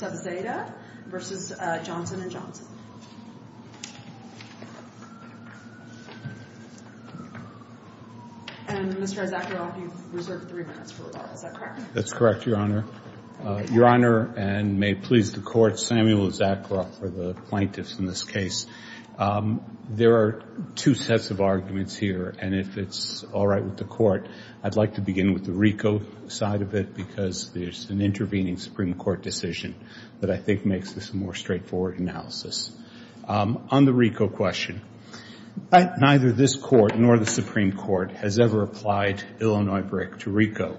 Sub Zeta v. Johnson & Johnson. That's correct, Your Honor. Your Honor, and may it please the Court, Samuel Zakharoff for the plaintiffs in this case. There are two sets of arguments here, and if it's all right with the Court, I'd like to begin with the RICO side of it, because there's an intervening Supreme Court decision that I think makes this a more straightforward analysis. On the RICO question, neither this Court nor the Supreme Court has ever applied Illinois BRIC to RICO,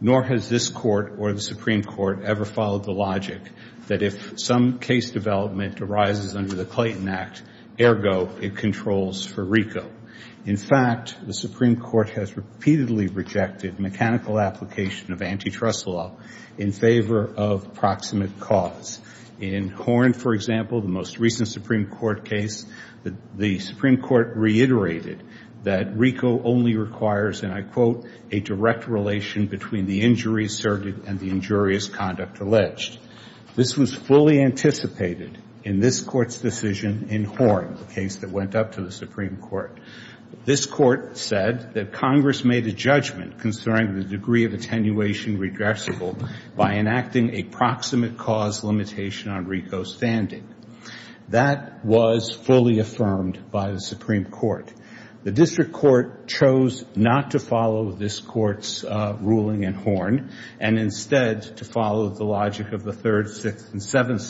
nor has this Court or the Supreme Court ever followed the logic that if some case development arises under the Clayton Act, ergo, it controls for RICO. In fact, the Supreme Court has repeatedly rejected mechanical application of antitrust law in favor of proximate cause. In Horn, for example, the most recent Supreme Court case, the Supreme Court reiterated that RICO only requires, and I quote, a direct relation between the injury asserted and the injurious conduct alleged. This was fully anticipated in this Court's decision in Horn, the case that went up to the Supreme Court. This Court said that Congress made a judgment concerning the degree of attenuation regressible by enacting a proximate cause limitation on RICO's standing. That was fully affirmed by the Supreme Court. The District Court chose not to follow this Court's ruling in Horn, and instead to follow the logic of the Third, Sixth, and Seventh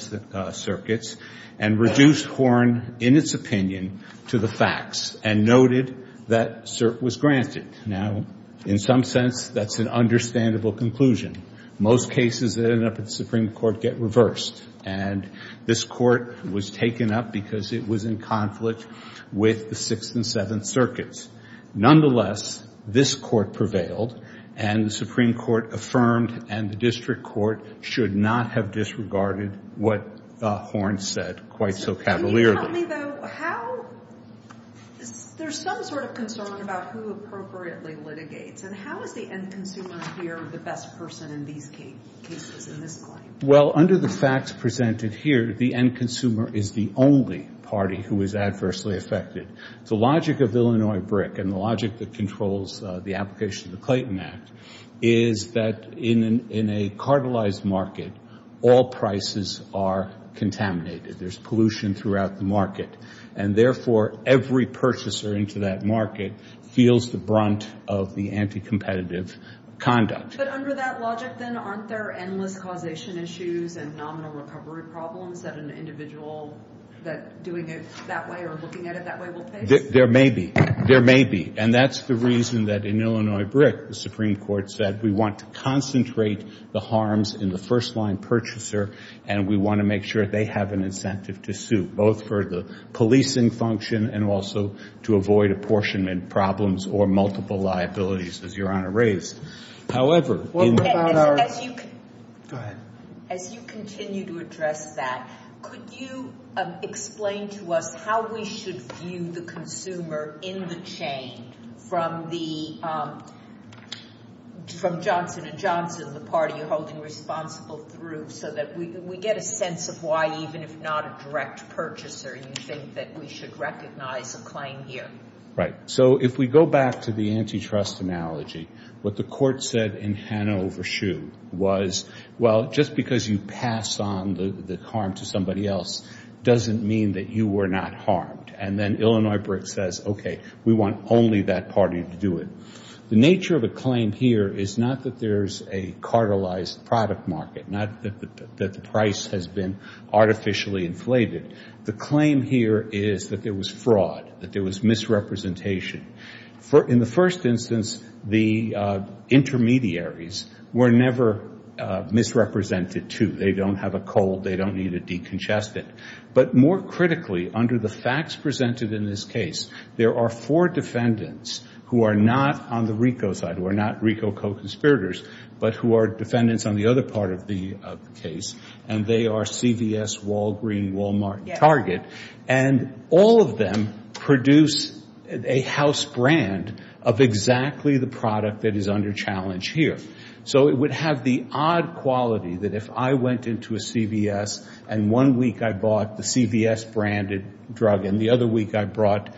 Circuits, and reduced Horn, in its opinion, to the facts, and noted that cert was granted. Now, in some sense, that's an understandable conclusion. Most cases that end up at the Supreme Court get reversed, and this Court was taken up because it was in conflict with the Sixth and Seventh Circuits. Nonetheless, this Court prevailed, and the Supreme Court affirmed, and the District Court should not have disregarded what Horn said quite so cavalierly. Can you tell me, though, how – there's some sort of concern about who appropriately litigates, and how is the end consumer here the best person in these cases, in this claim? Well, under the facts presented here, the end consumer is the only party who is adversely affected. The logic of Illinois BRIC, and the logic that controls the application of the Clayton Act, is that in a cartelized market, all prices are contaminated. There's pollution throughout the market, and therefore, every purchaser into that market feels the brunt of the anti-competitive conduct. But under that logic, then, aren't there endless causation issues and nominal recovery problems that an individual doing it that way or looking at it that way will face? There may be. There may be. And that's the reason that in Illinois BRIC, the Supreme Court said, we want to concentrate the harms in the first-line purchaser, and we want to make sure they have an incentive to sue, both for the policing function and also to avoid apportionment problems or multiple liabilities, as Your Honor raised. However, in – What about our – Go ahead. As you continue to address that, could you explain to us how we should view the consumer in the chain from the – from Johnson & Johnson, the party you're holding responsible through, so that we get a sense of why, even if not a direct purchaser, you think that we should recognize a claim here? Right. So if we go back to the antitrust analogy, what the Court said in Hanover Shoe was, well, just because you pass on the harm to somebody else doesn't mean that you were not harmed. And then Illinois BRIC says, okay, we want only that party to do it. The nature of a claim here is not that there's a cartelized product market, not that the price has been artificially inflated. The claim here is that there was fraud, that there was misrepresentation. In the first instance, the intermediaries were never misrepresented, too. They don't have a cold. They don't need a decongestant. But more critically, under the facts presented in this case, there are four defendants who are not on the RICO side, who are not RICO co-conspirators, but who are defendants on the other part of the case, and they are CVS, Walgreen, Walmart, Target. And all of them produce a house brand of exactly the product that is under challenge here. So it would have the odd quality that if I went into a CVS and one week I bought the CVS-branded drug and the other week I bought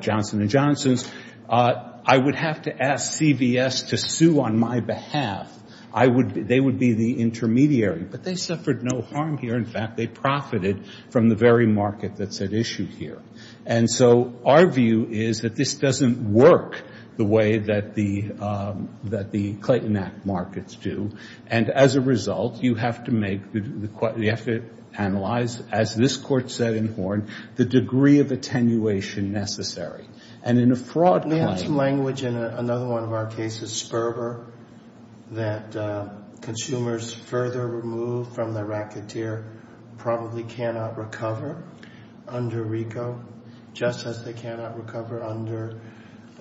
Johnson & Johnson's, I would have to ask CVS to sue on my behalf. They would be the intermediary. But they suffered no harm here. In fact, they profited from the very market that's at issue here. And so our view is that this doesn't work the way that the Clayton Act markets do. And as a result, you have to make, you have to analyze, as this Court said in Horn, the degree of attenuation necessary. And in a fraud claim- We have some language in another one of our cases, Sperber, that consumers further removed from their racketeer probably cannot recover under RICO, just as they cannot recover under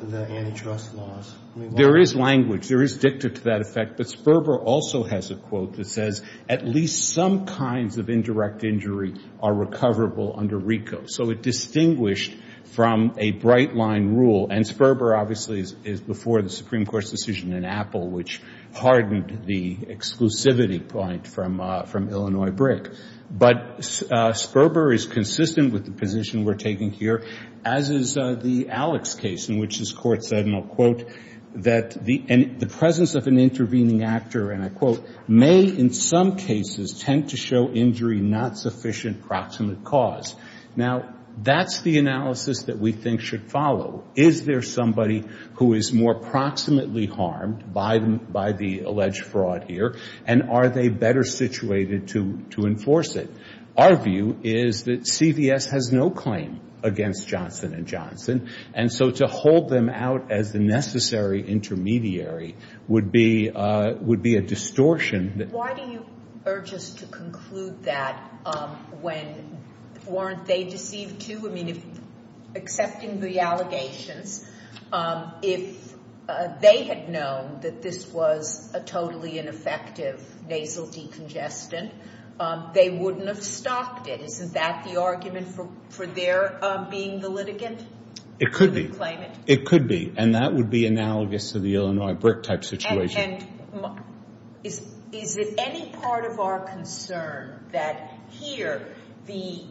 the antitrust laws. There is language. There is dicta to that effect. But Sperber also has a quote that says, at least some kinds of indirect injury are recoverable under RICO. So it distinguished from a bright-line rule. And Sperber, obviously, is before the Supreme Court's decision in Apple, which hardened the exclusivity point from Illinois BRIC. But Sperber is consistent with the position we're taking here, as is the Alex case, in which this Court said, and I'll quote, that the presence of an intervening actor, and I quote, may in some cases tend to show injury not sufficient proximate cause. Now, that's the analysis that we think should follow. Is there somebody who is more proximately harmed by the alleged fraud here? And are they better situated to enforce it? Our view is that CVS has no claim against Johnson & Johnson. And so to hold them out as the necessary intermediary would be a distortion that- Why do you urge us to conclude that when, weren't they deceived too? I mean, accepting the allegations, if they had known that this was a totally ineffective nasal decongestant, they wouldn't have stopped it. Isn't that the argument for their being the litigant? It could be. It could be. And that would be analogous to the Illinois BRIC-type situation. And is it any part of our concern that here the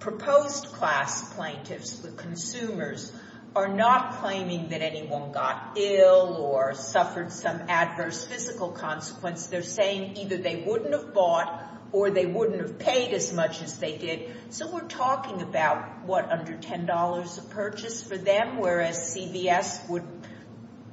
proposed class plaintiffs, the consumers, are not claiming that anyone got ill or suffered some adverse physical consequence? They're saying either they wouldn't have bought or they wouldn't have paid as much as they did. So we're talking about, what, under $10 a purchase for them, whereas CVS would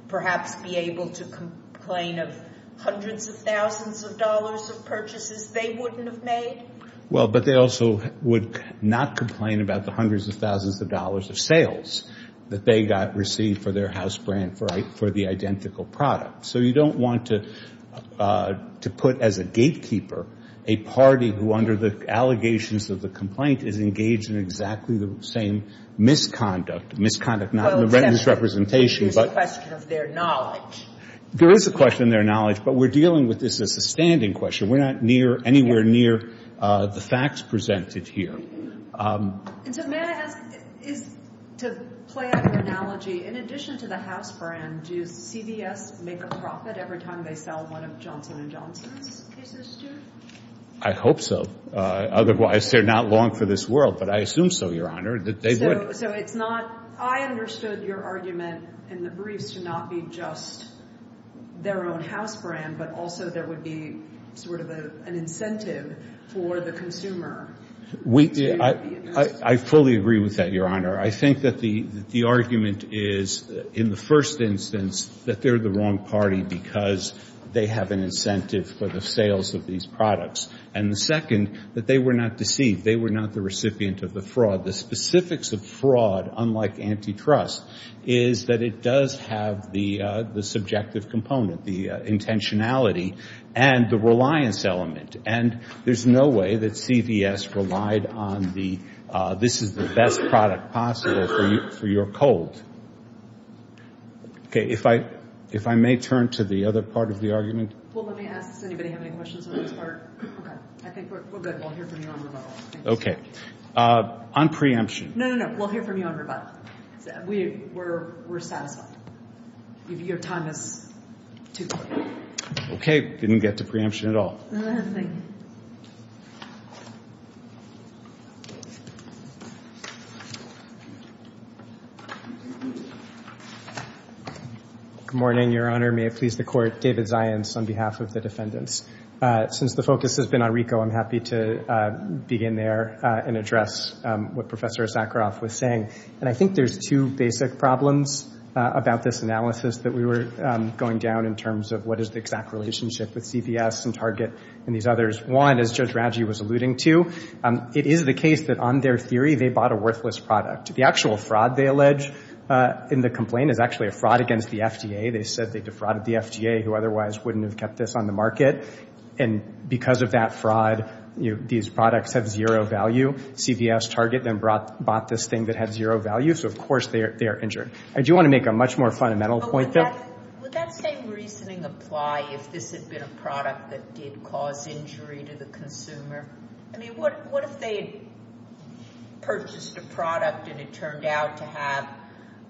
perhaps be able to complain of hundreds of thousands of dollars of purchases they wouldn't have made? Well, but they also would not complain about the hundreds of thousands of dollars of sales that they got received for their house brand for the identical product. So you don't want to put as a gatekeeper a party who, under the allegations of the complaint, is engaged in exactly the same misconduct. Misconduct, not misrepresentation. There's a question of their knowledge. There is a question of their knowledge. But we're dealing with this as a standing question. We're not anywhere near the facts presented here. And so may I ask, to play out an analogy, in addition to the house brand, do CVS make a profit every time they sell one of Johnson & Johnson's cases to you? I hope so. Otherwise, they're not long for this world. But I assume so, Your Honor, that they would. So it's not, I understood your argument in the briefs to not be just their own house brand, but also there would be sort of an incentive for the consumer. I fully agree with that, Your Honor. I think that the argument is, in the first instance, that they're the wrong party because they have an incentive for the sales of these products. And the second, that they were not deceived. They were not the recipient of the fraud. The specifics of fraud, unlike antitrust, is that it does have the subjective component, the intentionality, and the reliance element. And there's no way that CVS relied on the, this is the best product possible for your cold. Okay. If I may turn to the other part of the argument. Well, let me ask, does anybody have any questions on this part? Okay. I think we're good. We'll hear from you on the vote. Okay. On preemption. No, no, no. We'll hear from you on rebuttal. We're satisfied. Your time is too short. Okay. Didn't get to preemption at all. Good morning, Your Honor. May it please the Court. David Zions on behalf of the defendants. Since the focus has been on RICO, I'm happy to begin there. And address what Professor Issacharoff was saying. And I think there's two basic problems about this analysis that we were going down in terms of what is the exact relationship with CVS and Target and these others. One, as Judge Raggi was alluding to, it is the case that on their theory, they bought a worthless product. The actual fraud they allege in the complaint is actually a fraud against the FDA. They said they defrauded the FDA, who otherwise wouldn't have kept this on the market. And because of that fraud, these products have zero value. CVS, Target, then bought this thing that had zero value. So, of course, they are injured. Do you want to make a much more fundamental point there? Would that same reasoning apply if this had been a product that did cause injury to the consumer? I mean, what if they purchased a product and it turned out to have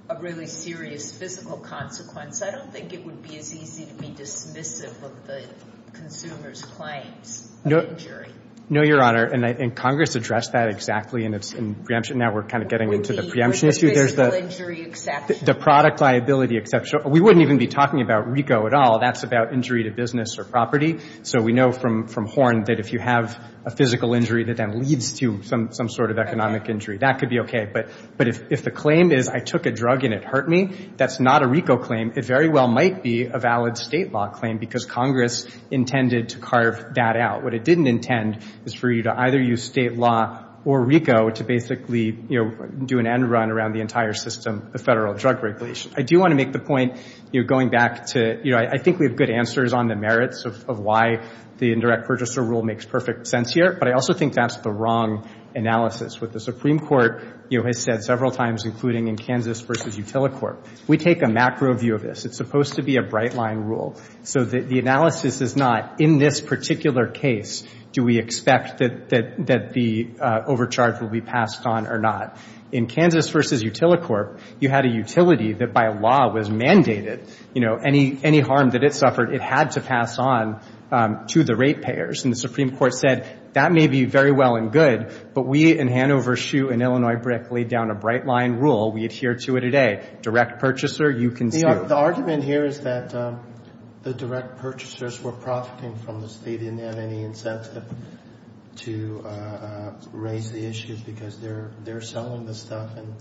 a really serious physical consequence? I don't think it would be as easy to be dismissive of the consumer's claims of injury. No, Your Honor. And Congress addressed that exactly. And it's in preemption. Now we're kind of getting into the preemption issue. Would there be a physical injury exception? The product liability exception. We wouldn't even be talking about RICO at all. That's about injury to business or property. So we know from Horn that if you have a physical injury, that that leads to some sort of economic injury. That could be OK. But if the claim is, I took a drug and it hurt me, that's not a RICO claim. It very well might be a valid state law claim because Congress intended to carve that out. What it didn't intend is for you to either use state law or RICO to basically do an end run around the entire system of federal drug regulation. I do want to make the point, going back to, I think we have good answers on the merits of why the indirect purchaser rule makes perfect sense here. But I also think that's the wrong analysis. What the Supreme Court has said several times, including in Kansas v. Utilicorp, we take a macro view of this. It's supposed to be a bright line rule. So the analysis is not, in this particular case, do we expect that the overcharge will be passed on or not? In Kansas v. Utilicorp, you had a utility that by law was mandated. Any harm that it suffered, it had to pass on to the rate payers. And the Supreme Court said, that may be very well and good. But we in Hanover, Shoe, and Illinois-Brick laid down a bright line rule. We adhere to it today. Direct purchaser, you can see- The argument here is that the direct purchasers were profiting from the state, and they had any incentive to raise the issues because they're selling the stuff and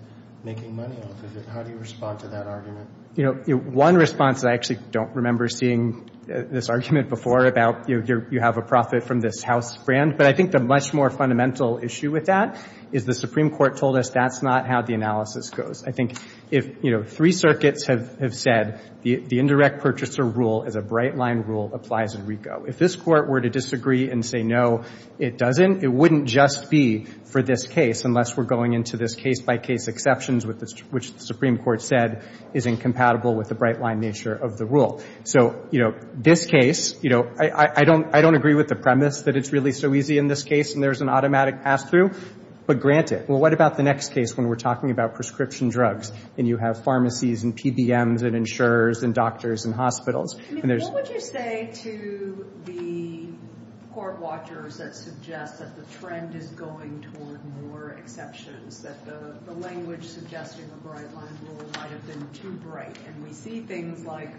making money off of it. How do you respond to that argument? You know, one response that I actually don't remember seeing this argument before about you have a profit from this house brand. But I think the much more fundamental issue with that is the Supreme Court told us that's not how the analysis goes. I think if, you know, three circuits have said the indirect purchaser rule is a bright line rule applies in RICO. If this Court were to disagree and say, no, it doesn't, it wouldn't just be for this case unless we're going into this case-by-case exceptions, which the Supreme Court said is incompatible with the bright line nature of the rule. So, you know, this case, you know, I don't agree with the premise that it's really so easy in this case and there's an automatic pass-through. But granted, well, what about the next case when we're talking about prescription drugs and you have pharmacies and PBMs and insurers and doctors and hospitals? I mean, what would you say to the court watchers that suggest that the trend is going toward more exceptions, that the language suggesting a bright line rule might have been too bright? And we see things like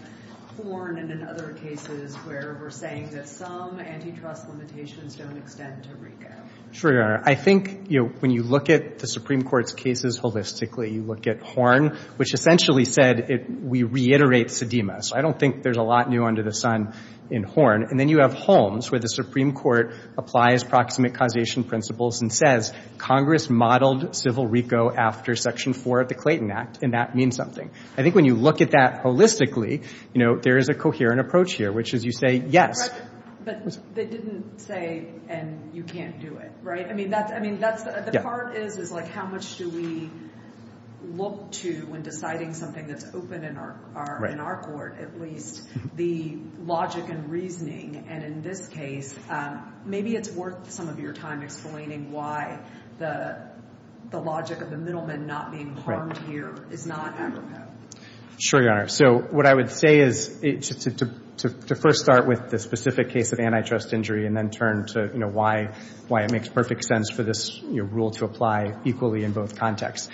Horn and in other cases where we're saying that some antitrust limitations don't extend to RICO. Sure, Your Honor. I think, you know, when you look at the Supreme Court's cases holistically, you look at Horn, which essentially said we reiterate sedima. So I don't think there's a lot new under the sun in Horn. And then you have Holmes where the Supreme Court applies proximate causation principles and says Congress modeled civil RICO after Section 4 of the Clayton Act and that means something. I think when you look at that holistically, you know, there is a coherent approach here, which is you say, yes. But they didn't say, and you can't do it. Right? I mean, that's, I mean, that's the part is, is like, how much do we look to when deciding something that's open in our court, at least the logic and reasoning. And in this case, maybe it's worth some of your time explaining why the logic of the middleman not being harmed here is not apropos. Sure, Your Honor. So what I would say is to first start with the specific case of antitrust injury and then turn to, you know, why, why it makes perfect sense for this rule to apply equally in both contexts.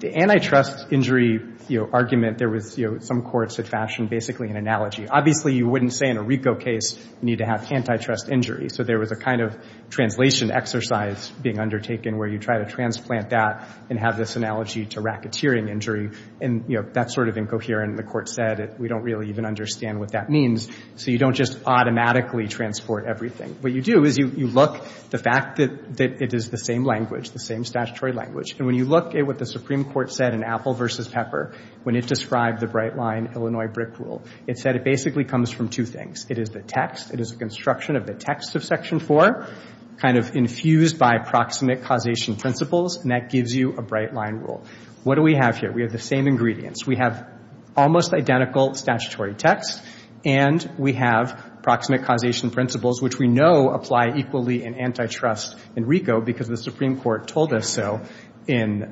The antitrust injury, you know, argument there was, you know, some courts had fashioned basically an analogy. Obviously, you wouldn't say in a RICO case, you need to have antitrust injury. So there was a kind of translation exercise being undertaken where you try to transplant that and have this analogy to racketeering injury. And, you know, that's sort of incoherent. The court said, we don't really even understand what that means. So you don't just automatically transport everything. What you do is you look, the fact that it is the same language, the same statutory language. And when you look at what the Supreme Court said in Apple versus Pepper, when it described the bright line Illinois brick rule, it said it basically comes from two things. It is the text. It is a construction of the text of Section 4, kind of infused by proximate causation principles. And that gives you a bright line rule. What do we have here? We have the same ingredients. We have almost identical statutory text. And we have proximate causation principles, which we know apply equally in antitrust in RICO because the Supreme Court told us so in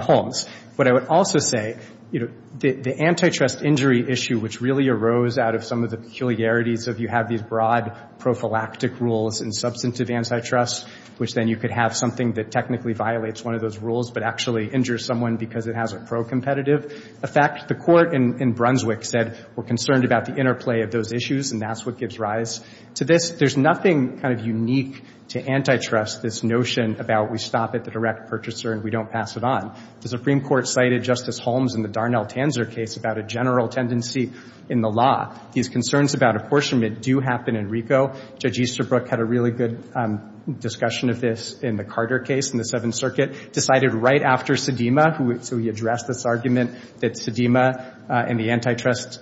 Holmes. But I would also say, you know, the antitrust injury issue, which really arose out of some of the peculiarities of you have these broad prophylactic rules in substantive antitrust, which then you could have something that technically violates one of those rules but actually injures someone because it has a pro-competitive effect. The Court in Brunswick said we're concerned about the interplay of those issues, and that's what gives rise to this. There's nothing kind of unique to antitrust, this notion about we stop at the direct purchaser and we don't pass it on. The Supreme Court cited Justice Holmes in the Darnell Tanzer case about a general tendency in the law. These concerns about apportionment do happen in RICO. Judge Easterbrook had a really good discussion of this in the Carter case in the Seventh Circuit, decided right after Sedema, so he addressed this argument that Sedema and the antitrust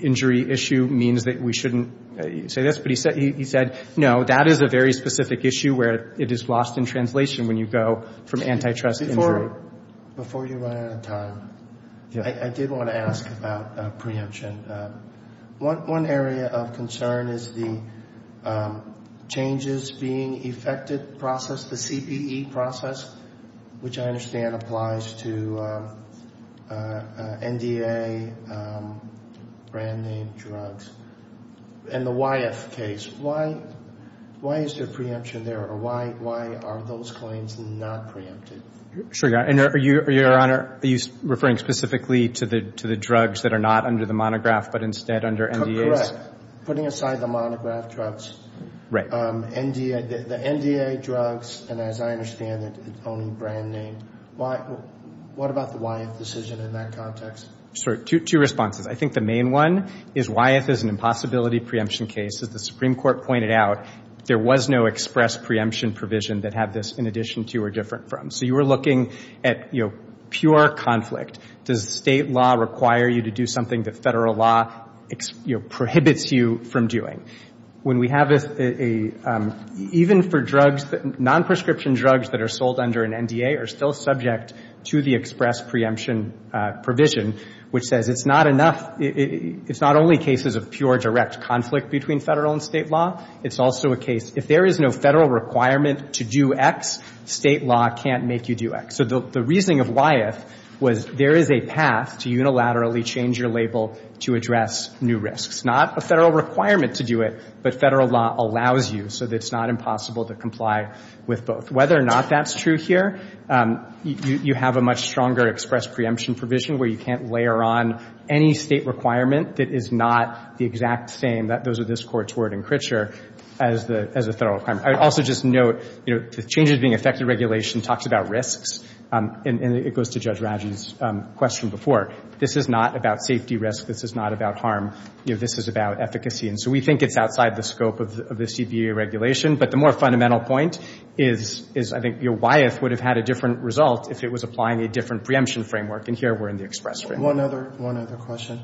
injury issue means that we shouldn't say this. But he said, no, that is a very specific issue where it is lost in translation when you go from antitrust injury. Before you run out of time, I did want to ask about preemption. One area of concern is the changes being effected process, the CPE process, which I understand applies to NDA, brand name drugs. In the YF case, why is there preemption there, or why are those claims not preempted? Sure, Your Honor. Are you referring specifically to the drugs that are not under the monograph but instead under NDAs? Putting aside the monograph drugs, the NDA drugs, and as I understand it, only brand name, what about the YF decision in that context? Sure. Two responses. I think the main one is YF is an impossibility preemption case. As the Supreme Court pointed out, there was no express preemption provision that had this in addition to or different from. You are looking at pure conflict. Does state law require you to do something that federal law prohibits you from doing? Even for drugs, non-prescription drugs that are sold under an NDA are still subject to the express preemption provision, which says it is not only cases of pure direct conflict between federal and state law, it is also a case, if there is no federal requirement to do X, state law can't make you do X. So the reasoning of YF was there is a path to unilaterally change your label to address new risks. Not a federal requirement to do it, but federal law allows you so that it's not impossible to comply with both. Whether or not that's true here, you have a much stronger express preemption provision where you can't layer on any state requirement that is not the exact same, those are this Court's word and creature, as a federal requirement. I would also just note, the changes being affected regulation talks about risks, and it goes to Judge Rajan's question before. This is not about safety risk. This is not about harm. This is about efficacy. So we think it's outside the scope of the CBA regulation, but the more fundamental point is I think YF would have had a different result if it was applying a different preemption framework, and here we're in the express framework. One other question.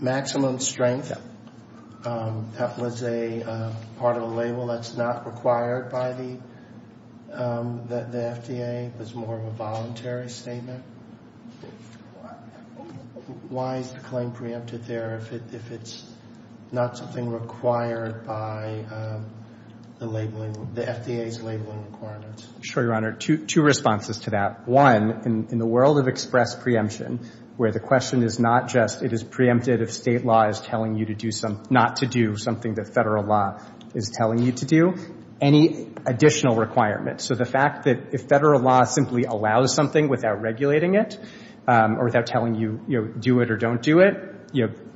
Maximum strength, that was a part of a label that's not required by the FDA. It was more of a voluntary statement. Why is the claim preempted there if it's not something required by the labeling, the FDA's labeling requirements? Sure, Your Honor. Two responses to that. One, in the world of express preemption, where the question is not just it is preempted if state law is telling you not to do something that federal law is telling you to do, any additional requirements. So the fact that if federal law simply allows something without regulating it, or without telling you do it or don't do it,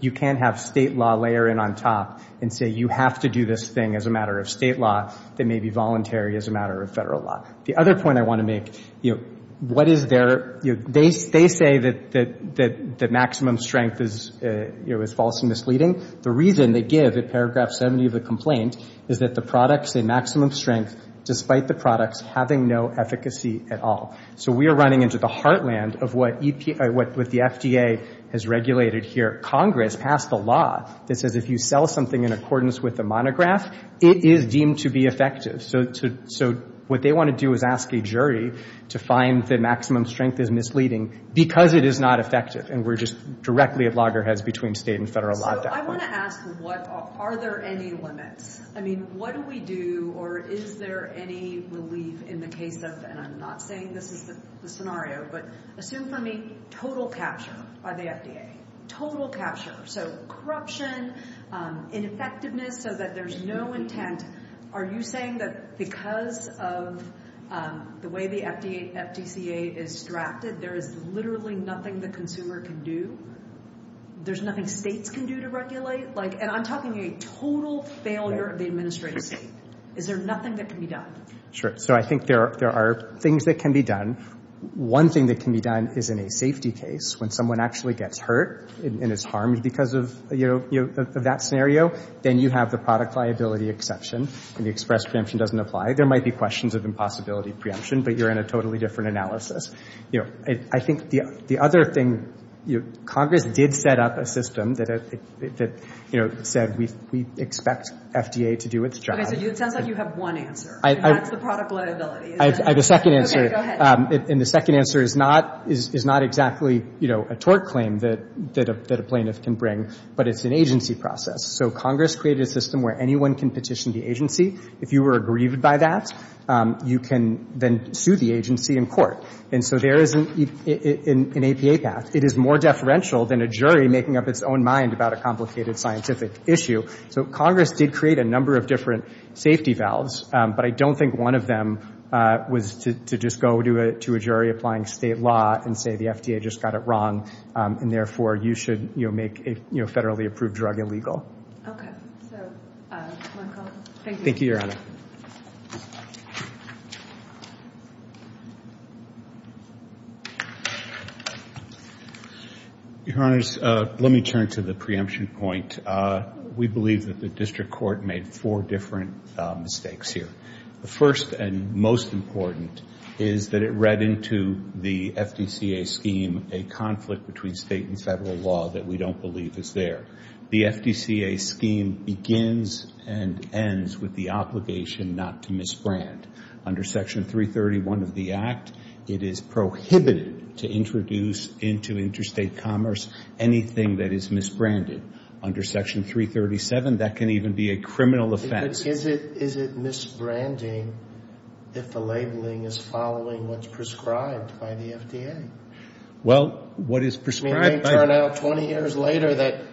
you can't have state law layer in on top and say you have to do this thing as a matter of state law that may be voluntary as a matter of federal law. The other point I want to make, they say that maximum strength is false and misleading. The reason they give in paragraph 70 of the complaint is that the products in maximum strength, despite the products having no efficacy at all. So we are running into the heartland of what the FDA has regulated here. Congress passed a law that says if you sell something in accordance with the monograph, it is deemed to be effective. So what they want to do is ask a jury to find that maximum strength is misleading because it is not effective. And we're just directly at loggerheads between state and federal law. So I want to ask, are there any limits? I mean, what do we do? Or is there any relief in the case of, and I'm not saying this is the scenario, but assume for me total capture by the FDA. Total capture. So corruption, ineffectiveness, so that there's no intent. Are you saying that because of the way the FDCA is drafted, there is literally nothing the consumer can do? There's nothing states can do to regulate? And I'm talking a total failure of the administrative state. Is there nothing that can be done? Sure. So I think there are things that can be done. One thing that can be done is in a safety case when someone actually gets hurt and is harmed because of that scenario. Then you have the product liability exception, and the express preemption doesn't apply. There might be questions of impossibility preemption, but you're in a totally different analysis. I think the other thing, Congress did set up a system that said we expect FDA to do its job. So it sounds like you have one answer, and that's the product liability. I have a second answer. And the second answer is not exactly a tort claim that a plaintiff can bring, but it's an agency process. Congress created a system where anyone can petition the agency. If you were aggrieved by that, you can then sue the agency in court. And so there is an APA path. It is more deferential than a jury making up its own mind about a complicated scientific issue. So Congress did create a number of different safety valves, but I don't think one of them was to just go to a jury applying state law and say the FDA just got it wrong, and therefore you should make a federally approved drug illegal. Okay. So, Michael, thank you. Thank you, Your Honor. Your Honors, let me turn to the preemption point. We believe that the district court made four different mistakes here. The first and most important is that it read into the FDCA scheme a conflict between state and federal law that we don't believe is there. The FDCA scheme begins and ends with the obligation not to misbrand. Under Section 331 of the Act, it is prohibited to introduce into interstate commerce anything that is misbranded. Under Section 337, that can even be a criminal offense. But is it misbranding if the labeling is following what's prescribed by the FDA? Well, what is prescribed by the FDA? It may turn out 20 years later that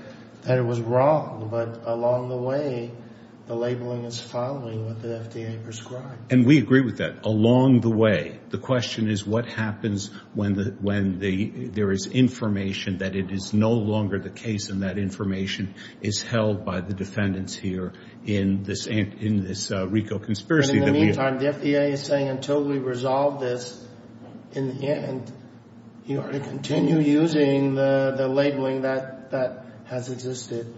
it was wrong, but along the way, the labeling is following what the FDA prescribes. And we agree with that. Along the way. The question is what happens when there is information that it is no longer the case and that information is held by the defendants here in this RICO conspiracy that we are... The labeling that has existed.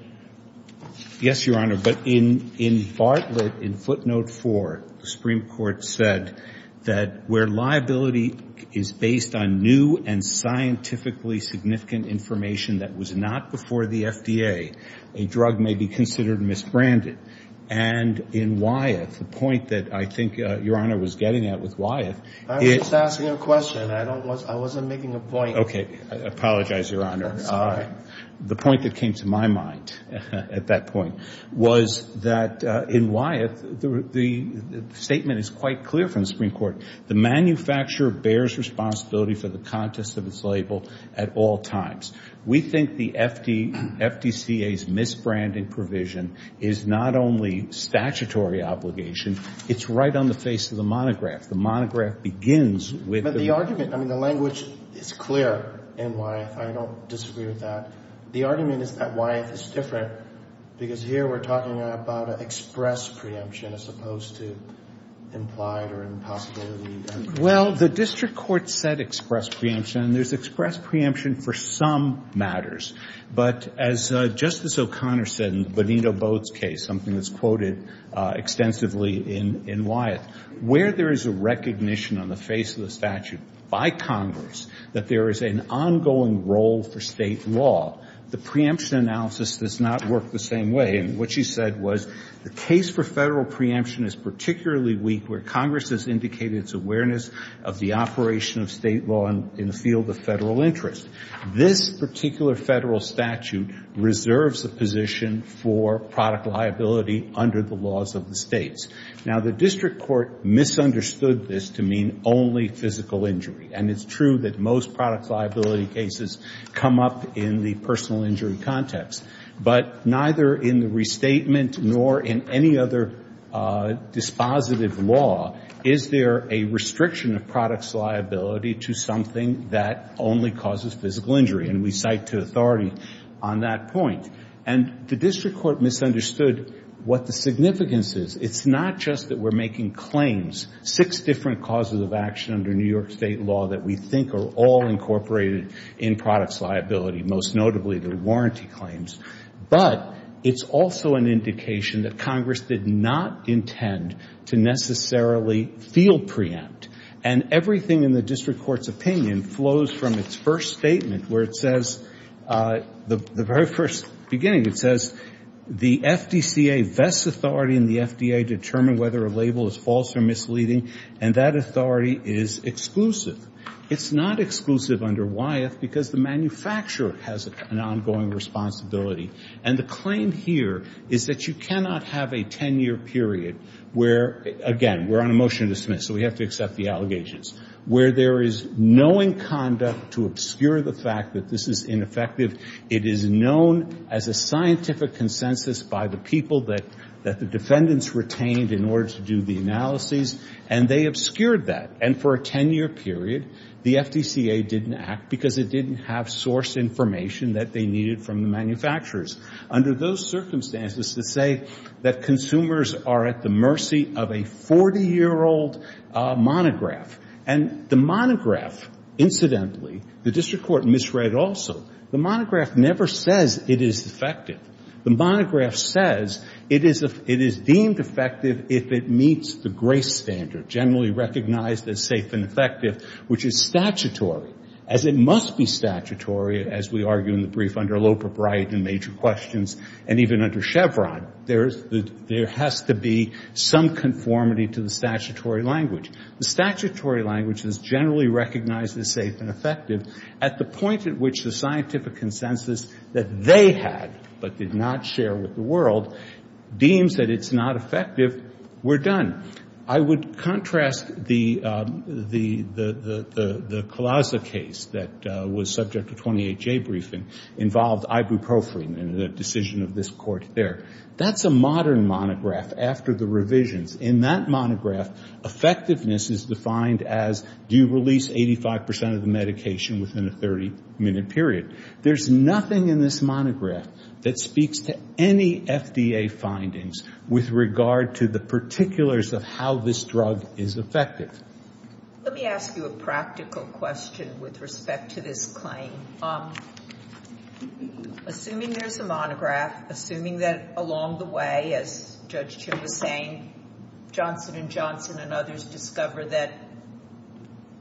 Yes, Your Honor. But in Bartlett, in footnote four, the Supreme Court said that where liability is based on new and scientifically significant information that was not before the FDA, a drug may be considered misbranded. And in Wyeth, the point that I think Your Honor was getting at with Wyeth... I was just asking a question. I wasn't making a point. Apologize, Your Honor. The point that came to my mind at that point was that in Wyeth, the statement is quite clear from the Supreme Court. The manufacturer bears responsibility for the contest of its label at all times. We think the FDCA's misbranding provision is not only statutory obligation. It's right on the face of the monograph. The monograph begins with... I mean, the language is clear in Wyeth. I don't disagree with that. The argument is that Wyeth is different because here we're talking about an express preemption as opposed to implied or impossibility. Well, the district court said express preemption and there's express preemption for some matters. But as Justice O'Connor said in Benito Booth's case, something that's quoted extensively in Wyeth, where there is a recognition on the face of the statute by Congress that there is an ongoing role for state law, the preemption analysis does not work the same way. And what she said was the case for federal preemption is particularly weak where Congress has indicated its awareness of the operation of state law in the field of federal interest. This particular federal statute reserves the position for product liability under the laws of the states. Now, the district court misunderstood this to mean only physical injury. And it's true that most product liability cases come up in the personal injury context. But neither in the restatement nor in any other dispositive law is there a restriction of product's liability to something that only causes physical injury. And we cite to authority on that point. And the district court misunderstood what the significance is. It's not just that we're making claims, six different causes of action under New York state law that we think are all incorporated in product's liability, most notably the warranty claims. But it's also an indication that Congress did not intend to necessarily feel preempt. And everything in the district court's opinion flows from its first statement where it says, the very first beginning, it says, the FDCA vests authority in the FDA to determine whether a label is false or misleading. And that authority is exclusive. It's not exclusive under Wyeth because the manufacturer has an ongoing responsibility. And the claim here is that you cannot have a 10-year period where, again, we're on a motion to dismiss, so we have to accept the allegations, where there is knowing conduct to obscure the fact that this is ineffective. It is known as a scientific consensus by the people that the defendants retained in order to do the analyses. And they obscured that. And for a 10-year period, the FDCA didn't act because it didn't have source information that they needed from the manufacturers. Under those circumstances to say that consumers are at the mercy of a 40-year-old monograph. And the monograph, incidentally, the district court misread also, the monograph never says it is effective. The monograph says it is deemed effective if it meets the grace standard, generally recognized as safe and effective, which is statutory, as it must be statutory, as we argue in the brief under Loper, Bright, and Major Questions, and even under Chevron. There has to be some conformity to the statutory language. The statutory language is generally recognized as safe and effective at the point at which the scientific consensus that they had, but did not share with the world, deems that it's not effective, we're done. I would contrast the Colasza case that was subject to 28-J briefing involved ibuprofen in the decision of this court there. That's a modern monograph after the revisions. In that monograph, effectiveness is defined as do you release 85% of the medication within a 30-minute period. There's nothing in this monograph that speaks to any FDA findings with regard to the particulars of how this drug is effective. Let me ask you a practical question with respect to this claim. Assuming there's a monograph, assuming that along the way, as Judge Chin was saying, Johnson and Johnson and others discover that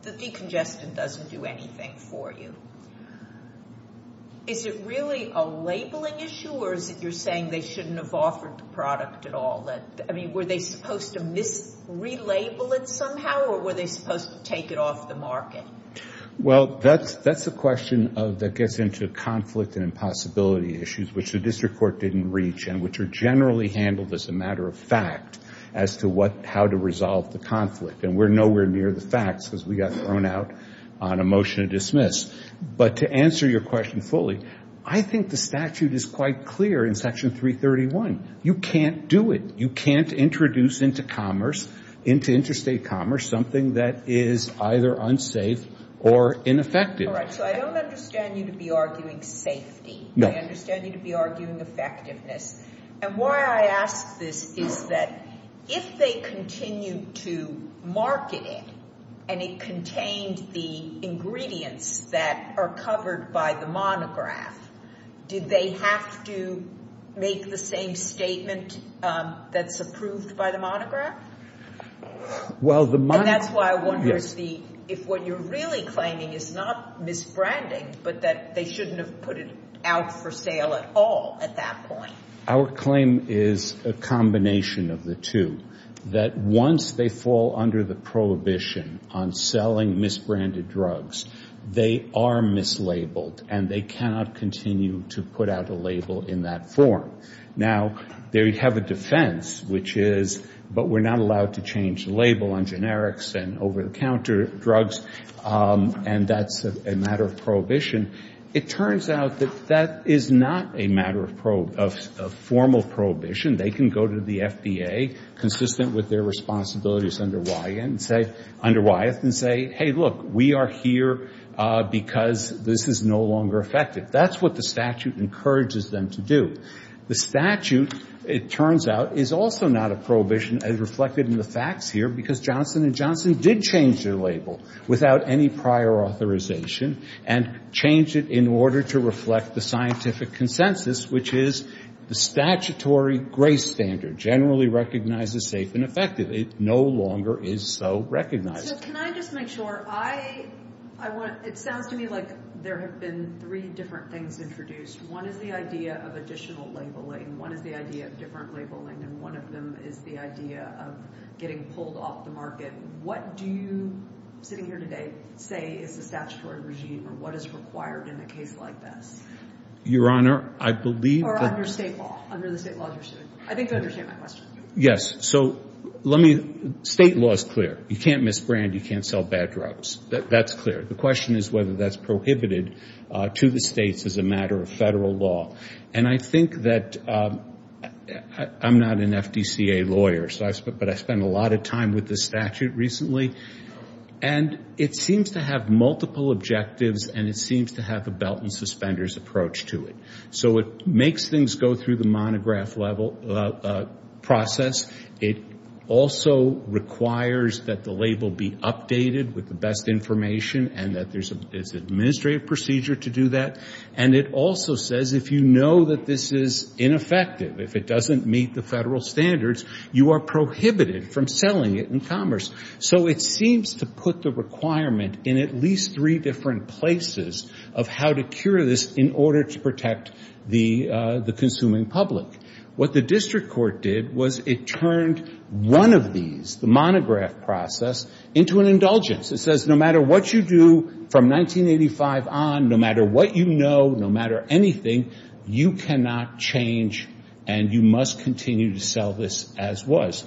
the decongestant doesn't do anything for you, is it really a labeling issue, or is it you're saying they shouldn't have offered the product at all? Were they supposed to mis-relabel it somehow, or were they supposed to take it off the market? Well, that's a question that gets into conflict and impossibility issues, which the district court didn't reach, and which are generally handled as a matter of fact as to how to resolve the conflict. We're nowhere near the facts, because we got thrown out on a motion to dismiss. But to answer your question fully, I think the statute is quite clear in Section 331. You can't do it. You can't introduce into commerce, into interstate commerce, something that is either unsafe or ineffective. All right. So I don't understand you to be arguing safety. No. I understand you to be arguing effectiveness. And why I ask this is that if they continue to market it, and it contained the ingredients that are covered by the monograph, did they have to make the same statement that's approved by the monograph? Well, the monograph— And that's why I wonder if what you're really claiming is not misbranding, but that they shouldn't have put it out for sale at all at that point. Our claim is a combination of the two, that once they fall under the prohibition on selling misbranded drugs, they are mislabeled. And they cannot continue to put out a label in that form. Now, they have a defense, which is, but we're not allowed to change the label on generics and over-the-counter drugs. And that's a matter of prohibition. It turns out that that is not a matter of formal prohibition. They can go to the FDA, consistent with their responsibilities under Wyeth, and say, look, we are here because this is no longer effective. That's what the statute encourages them to do. The statute, it turns out, is also not a prohibition, as reflected in the facts here, because Johnson & Johnson did change their label without any prior authorization, and changed it in order to reflect the scientific consensus, which is the statutory grace standard generally recognizes safe and effective. It no longer is so recognized. So can I just make sure? It sounds to me like there have been three different things introduced. One is the idea of additional labeling. One is the idea of different labeling. And one of them is the idea of getting pulled off the market. What do you, sitting here today, say is the statutory regime, or what is required in a case like this? Your Honor, I believe that— Or under state law. Under the state law, you're saying. I think you understand my question. Yes. So let me— State law is clear. You can't misbrand. You can't sell bad drugs. That's clear. The question is whether that's prohibited to the states as a matter of federal law. And I think that— I'm not an FDCA lawyer, but I spent a lot of time with the statute recently. And it seems to have multiple objectives, and it seems to have a belt and suspenders approach to it. So it makes things go through the monograph level process. It also requires that the label be updated with the best information and that there's an administrative procedure to do that. And it also says if you know that this is ineffective, if it doesn't meet the federal standards, you are prohibited from selling it in commerce. So it seems to put the requirement in at least three different places of how to cure this in order to protect the consuming public. What the district court did was it turned one of these, the monograph process, into an indulgence. It says no matter what you do from 1985 on, no matter what you know, no matter anything, you cannot change and you must continue to sell this as was.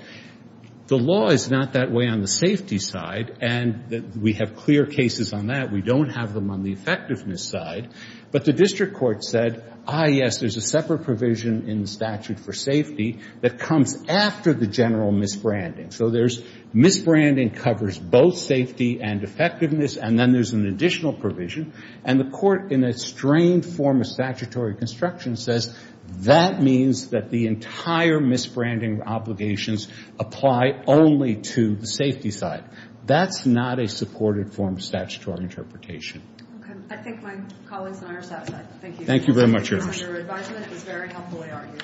The law is not that way on the safety side, and we have clear cases on that. We don't have them on the effectiveness side. But the district court said, ah, yes, there's a separate provision in the statute for safety that comes after the general misbranding. So there's misbranding covers both safety and effectiveness, and then there's an additional provision. And the court, in a strained form of statutory construction, says that means that the entire misbranding obligations apply only to the safety side. That's not a supported form of statutory interpretation. I think my colleagues and I are satisfied. Thank you very much. Your advisement was very helpfully argued.